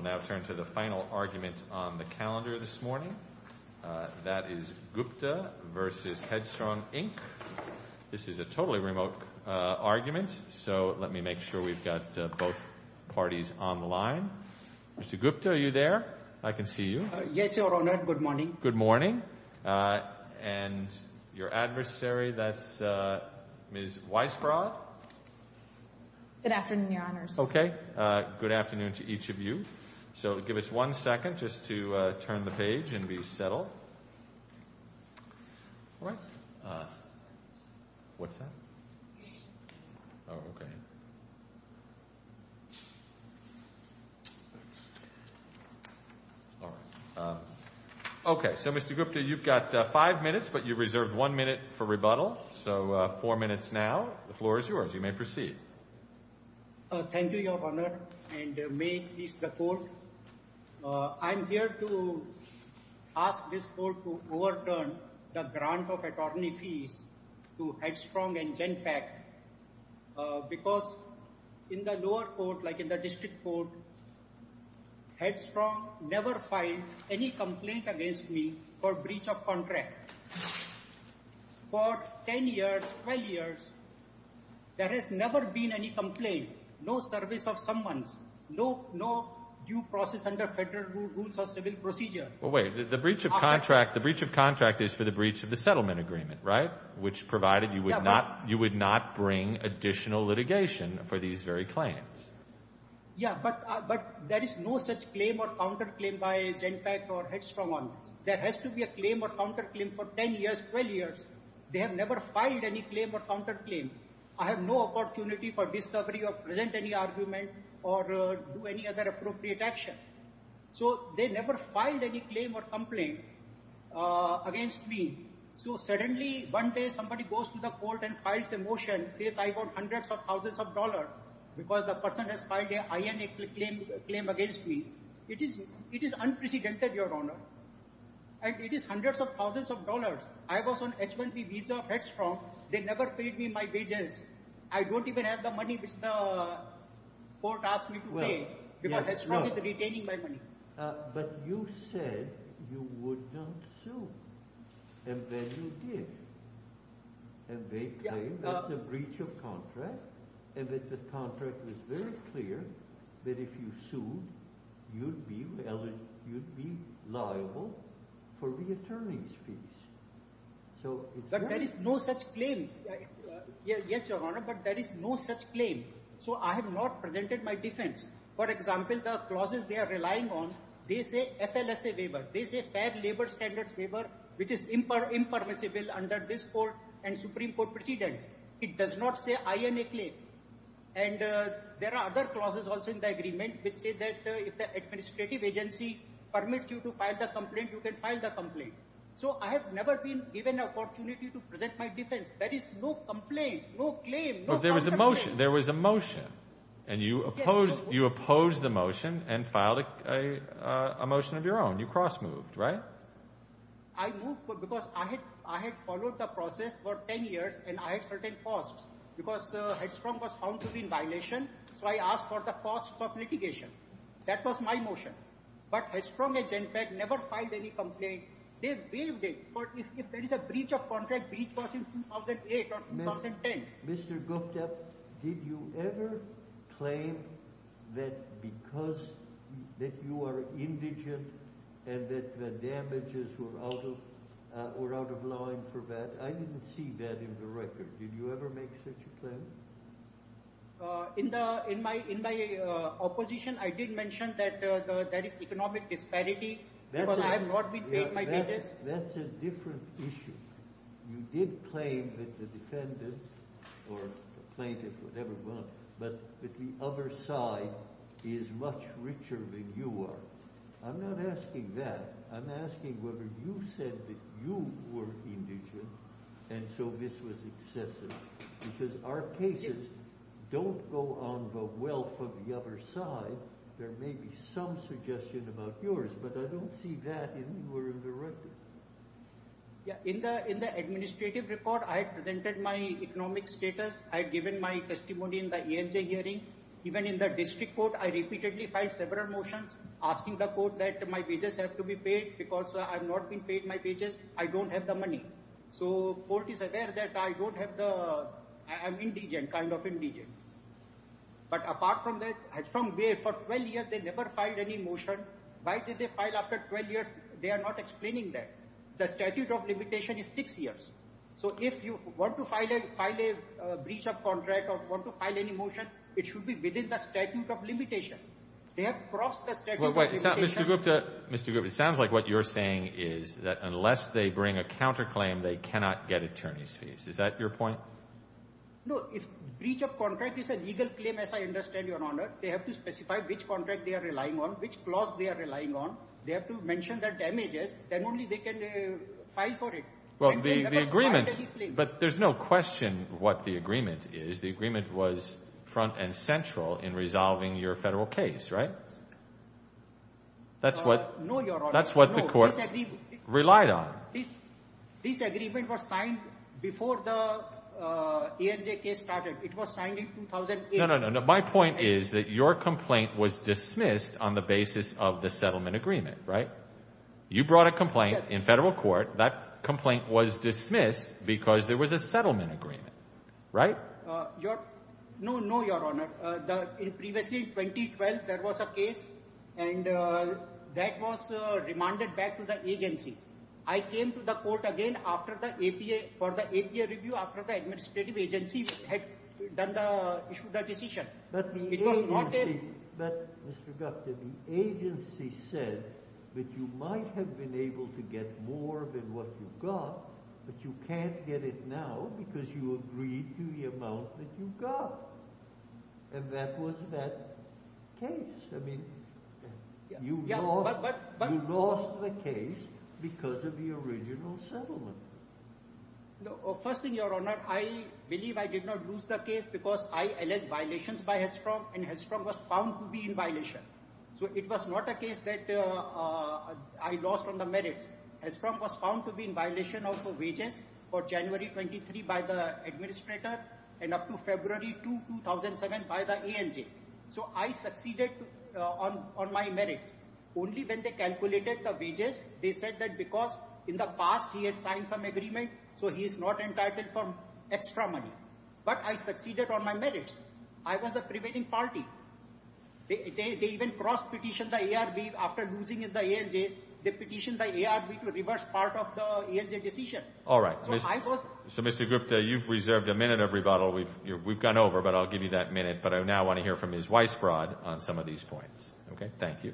We'll now turn to the final argument on the calendar this morning. That is Gupta v. Headstrong, Inc. This is a totally remote argument, so let me make sure we've got both parties on the line. Mr. Gupta, are you there? I can see you. Yes, Your Honor. Good morning. Good morning. And your adversary, that's Ms. Weisbrot. Good afternoon, Your Honors. Okay. Good afternoon to each of you. So give us one second just to turn the page and be settled. All right. What's that? Oh, okay. All right. Okay. So, Mr. Gupta, you've got five minutes, but you've reserved one minute for rebuttal, so four minutes now. The floor is yours. You may proceed. Thank you, Your Honor, and may it please the Court. I'm here to ask this Court to overturn the grant of attorney fees to Headstrong and GenPAC because in the lower court, like in the district court, Headstrong never filed any complaint against me for breach of contract. For 10 years, 12 years, there has never been any complaint, no service of someone's, no due process under federal rules or civil procedure. Well, wait. The breach of contract is for the breach of the settlement agreement, right? Which provided you would not bring additional litigation for these very claims. Yeah, but there is no such claim or counterclaim by GenPAC or Headstrong on this. There has to be a claim or counterclaim for 10 years, 12 years. They have never filed any claim or counterclaim. I have no opportunity for discovery or present any argument or do any other appropriate action. So they never filed any claim or complaint against me. So suddenly, one day somebody goes to the court and files a motion, says I got hundreds of thousands of dollars because the person has filed an INA claim against me. It is unprecedented, Your Honor. And it is hundreds of thousands of dollars. I was on H-1B visa of Headstrong. They never paid me my wages. I don't even have the money which the court asked me to pay because Headstrong is retaining my money. But you said you would not sue, and then you did, and they claimed that's a breach of contract and that the contract was very clear that if you sued, you'd be liable for reattorney's fees. But there is no such claim. Yes, Your Honor, but there is no such claim. So I have not presented my defense. For example, the clauses they are relying on, they say FLSA waiver. They say Fair Labor Standards waiver, which is impermissible under this court and Supreme Court precedents. It does not say INA claim. And there are other clauses also in the agreement which say that if the administrative agency permits you to file the complaint, you can file the complaint. So I have never been given an opportunity to present my defense. There is no complaint, no claim, no contract. But there was a motion. There was a motion, and you opposed the motion and filed a motion of your own. You cross-moved, right? I moved because I had followed the process for 10 years, and I had certain costs. Because Headstrong was found to be in violation, so I asked for the cost of litigation. That was my motion. But Headstrong and GenPAC never filed any complaint. They waived it. But if there is a breach of contract, breach was in 2008 or 2010. Mr. Gupta, did you ever claim that because that you are indigent and that the damages were out of line for that? I didn't see that in the record. Did you ever make such a claim? In my opposition, I did mention that there is economic disparity because I have not been paid my wages. That's a different issue. You did claim that the defendant or the plaintiff, whatever it was, but that the other side is much richer than you are. I'm not asking that. I'm asking whether you said that you were indigent, and so this was excessive. Because our cases don't go on the wealth of the other side. There may be some suggestion about yours, but I don't see that anywhere in the record. In the administrative report, I presented my economic status. I had given my testimony in the ANJ hearing. Even in the district court, I repeatedly filed several motions asking the court that my wages have to be paid because I have not been paid my wages. I don't have the money. So the court is aware that I'm indigent, kind of indigent. But apart from that, Headstrong, for 12 years, they never filed any motion. Why did they file after 12 years? They are not explaining that. The statute of limitation is six years. So if you want to file a breach of contract or want to file any motion, it should be within the statute of limitation. They have crossed the statute of limitation. Mr. Gupta, it sounds like what you're saying is that unless they bring a counterclaim, they cannot get attorney's fees. Is that your point? No, if breach of contract is a legal claim, as I understand, Your Honor, they have to specify which contract they are relying on, which clause they are relying on. They have to mention the damages. Then only they can file for it. Well, the agreement, but there's no question what the agreement is. The agreement was front and central in resolving your federal case, right? No, Your Honor. That's what the court relied on. This agreement was signed before the ANJ case started. It was signed in 2008. My point is that your complaint was dismissed on the basis of the settlement agreement, right? You brought a complaint in federal court. That complaint was dismissed because there was a settlement agreement, right? No, no, Your Honor. Previously in 2012, there was a case and that was remanded back to the agency. I came to the court again for the APA review after the administrative agency had issued the decision. But, Mr. Gupta, the agency said that you might have been able to get more than what you got, but you can't get it now because you agreed to the amount that you got, and that was that case. I mean, you lost the case because of the original settlement. No, first thing, Your Honor, I believe I did not lose the case because I alleged violations by Hedstrom, and Hedstrom was found to be in violation. So it was not a case that I lost on the merits. Hedstrom was found to be in violation of the wages for January 23 by the administrator and up to February 2, 2007 by the ANJ. So I succeeded on my merits. Only when they calculated the wages, they said that because in the past he had signed some agreement, so he is not entitled for extra money. But I succeeded on my merits. I was the prevailing party. They even cross-petitioned the ARB after losing in the ANJ. They petitioned the ARB to reverse part of the ANJ decision. All right. So, Mr. Gupta, you've reserved a minute of rebuttal. We've gone over, but I'll give you that minute. But I now want to hear from Ms. Weisbrod on some of these points. Okay. Thank you.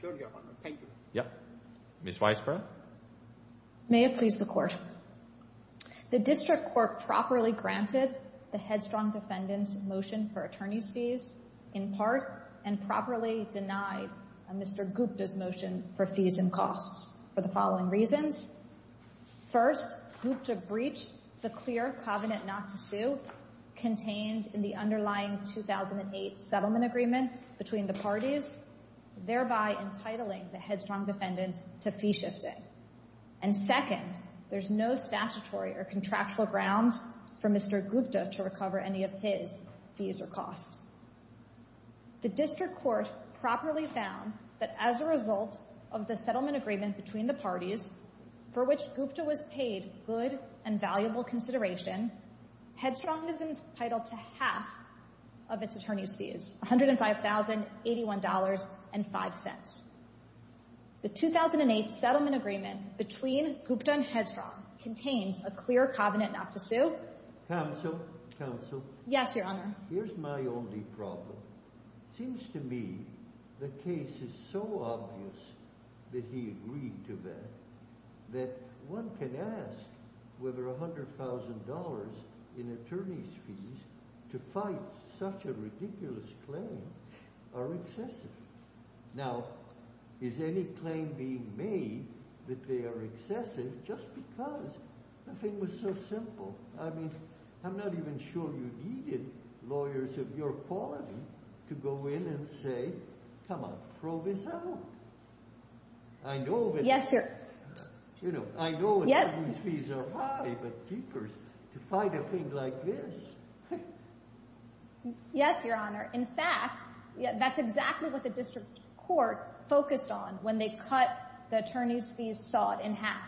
Sure, Your Honor. Thank you. Yeah. Ms. Weisbrod? May it please the Court. The District Court properly granted the Hedstrom defendant's motion for attorney's fees in part and properly denied Mr. Gupta's motion for fees and costs for the following reasons. First, Gupta breached the clear covenant not to sue contained in the underlying 2008 settlement agreement between the parties, thereby entitling the Hedstrom defendants to fee shifting. And second, there's no statutory or contractual grounds for Mr. Gupta to recover any of his fees or costs. The District Court properly found that as a result of the settlement agreement between the parties for which Gupta was paid good and valuable consideration, Hedstrom is entitled to half of its attorney's fees, $105,081.05. The 2008 settlement agreement between Gupta and Hedstrom contains a clear covenant not to sue. Counsel? Counsel? Yes, Your Honor. Here's my only problem. Seems to me the case is so obvious that he agreed to that, that one can ask whether $100,000 in attorney's fees to fight such a ridiculous claim are excessive. Now, is any claim being made that they are excessive just because the thing was so simple? I mean, I'm not even sure you needed lawyers of your quality to go in and say, come on, throw this out. I know that, you know, I know attorney's fees are high, but jeepers, to fight a thing like this. Yes, Your Honor. In fact, that's exactly what the District Court focused on when they cut the attorney's fees sought in half.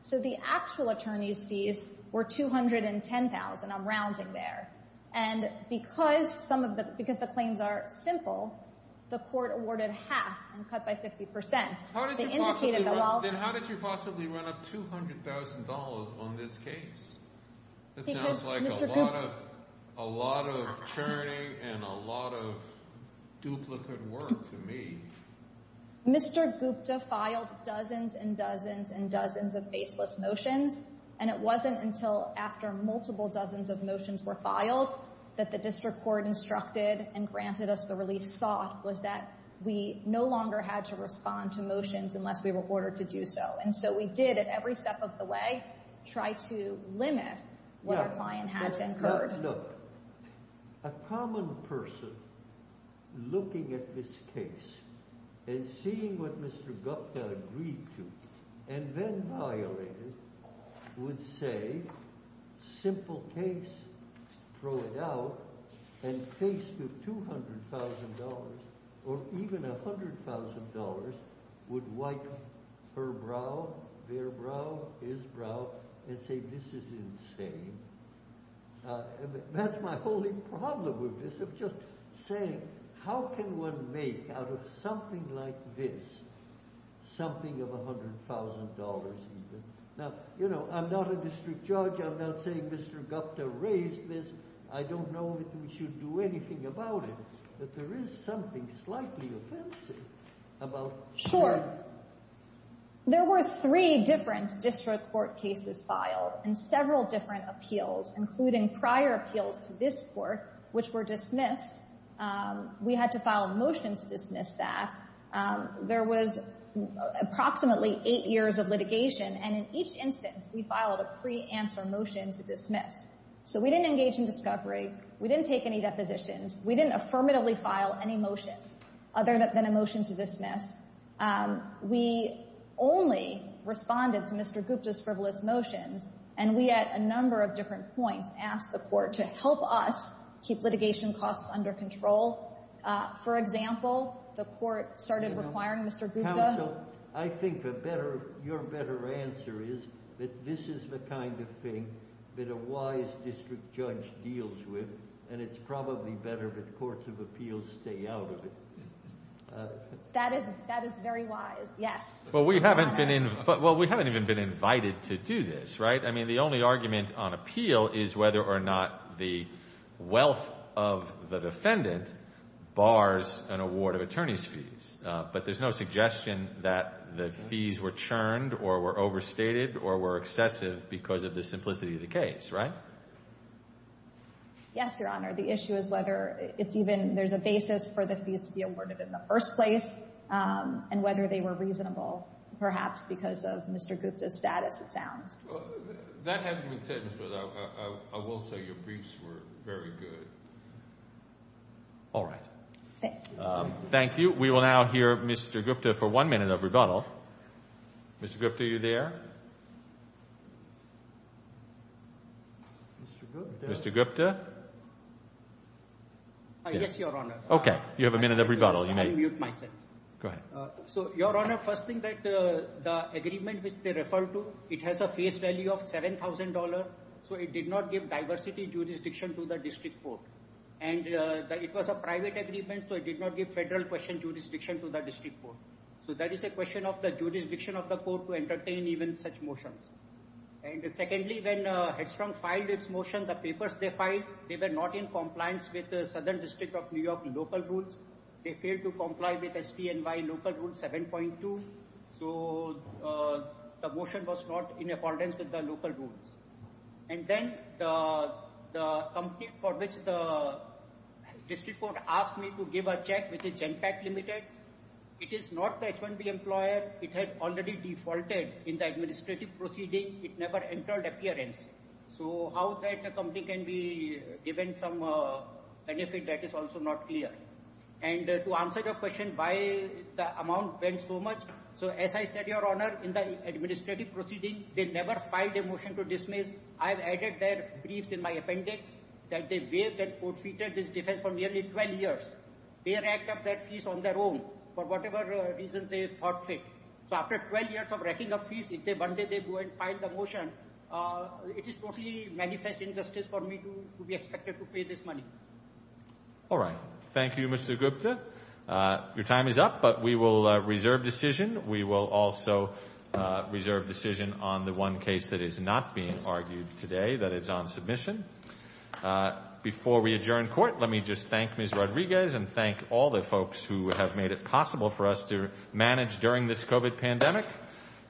So the actual attorney's fees were $210,000. I'm rounding there. And because some of the, because the claims are simple, the court awarded half and cut by 50%. How did you possibly run up $200,000 on this case? It sounds like a lot of churning and a lot of duplicate work to me. Mr. Gupta filed dozens and dozens and dozens of baseless motions. And it wasn't until after multiple dozens of motions were filed that the District Court instructed and granted us the relief sought, was that we no longer had to respond to motions unless we were ordered to do so. And so we did, at every step of the way, try to limit what our client had to incur. Look, a common person looking at this case and seeing what Mr. Gupta agreed to and then violated, would say, simple case, throw it out, and faced with $200,000 or even $100,000 would wipe her brow, their brow, his brow, and say, this is insane. That's my only problem with this, of just saying, how can one make out of something like this something of $100,000 even? Now, you know, I'm not a district judge. I'm not saying Mr. Gupta raised this. I don't know that we should do anything about it. But there is something slightly offensive about sharing. There were three different district court cases filed and several different appeals, including prior appeals to this court, which were dismissed. We had to file a motion to dismiss that. There was approximately eight years of litigation, and in each instance, we filed a pre-answer motion to dismiss. So we didn't engage in discovery. We didn't take any depositions. We didn't affirmatively file any motions other than a motion to dismiss. We only responded to Mr. Gupta's frivolous motions, and we, at a number of different points, asked the court to help us keep litigation costs under control. For example, the court started requiring Mr. Gupta— Counsel, I think your better answer is that this is the kind of thing that a wise district judge deals with, and it's probably better that courts of appeals stay out of it. That is very wise, yes. Well, we haven't even been invited to do this, right? I mean, the only argument on appeal is whether or not the wealth of the defendant bars an award of attorney's fees. But there's no suggestion that the fees were churned or were overstated or were excessive because of the simplicity of the case, right? Yes, Your Honor. The issue is whether it's even—there's a basis for the fees to be awarded in the first place and whether they were reasonable, perhaps because of Mr. Gupta's status, it sounds. That hasn't been said, but I will say your briefs were very good. All right. Thank you. We will now hear Mr. Gupta for one minute of rebuttal. Mr. Gupta, are you there? Mr. Gupta? Yes, Your Honor. Okay, you have a minute of rebuttal. Go ahead. So, Your Honor, first thing, the agreement which they referred to, it has a face value of $7,000, so it did not give diversity jurisdiction to the district court. And it was a private agreement, so it did not give federal jurisdiction to the district court. So that is a question of the jurisdiction of the court to entertain even such motions. And secondly, when Hedstrom filed its motion, the papers they filed, they were not in compliance with the Southern District of New York local rules. They failed to comply with STNY local rule 7.2. So the motion was not in accordance with the local rules. And then the company for which the district court asked me to give a check, which is Genpak Limited, it is not the H-1B employer. It had already defaulted in the administrative proceeding. It never entered appearance. So how that the company can be given some benefit, that is also not clear. And to answer your question, why the amount went so much, so as I said, Your Honor, in the administrative proceeding, they never filed a motion to dismiss. I've added their briefs in my appendix that they waived and co-featured this defense for nearly 12 years. They racked up their fees on their own for whatever reason they thought fit. So after 12 years of racking up fees, if one day they go and file the motion, it is totally manifest injustice for me to be expected to pay this money. All right. Thank you, Mr. Gupta. Your time is up, but we will reserve decision. We will also reserve decision on the one case that is not being argued today, that is on submission. Before we adjourn court, let me just thank Ms. Rodriguez and thank all the folks who have made it possible for us to manage during this COVID pandemic.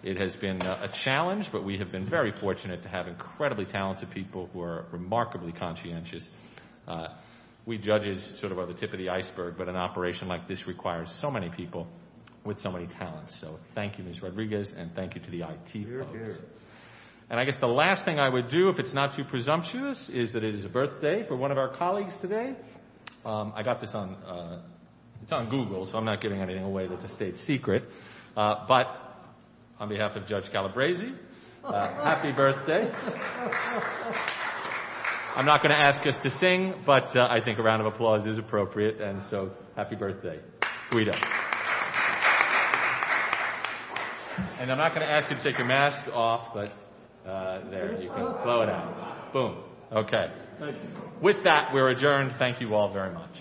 It has been a challenge, but we have been very fortunate to have incredibly talented people who are remarkably conscientious. We judges sort of are the tip of the iceberg, but an operation like this requires so many people with so many talents. So thank you, Ms. Rodriguez, and thank you to the IT folks. And I guess the last thing I would do, if it's not too presumptuous, is that it is a birthday for one of our colleagues today. I got this on, it's on Google, so I'm not giving anything away that's a state secret. But on behalf of Judge Calabresi, happy birthday. I'm not going to ask us to sing, but I think a round of applause is appropriate. And so happy birthday. Guido. And I'm not going to ask you to take your mask off, but there, you can blow it out. Boom. Okay. With that, we are adjourned. Thank you all very much. Thank you. Thank you.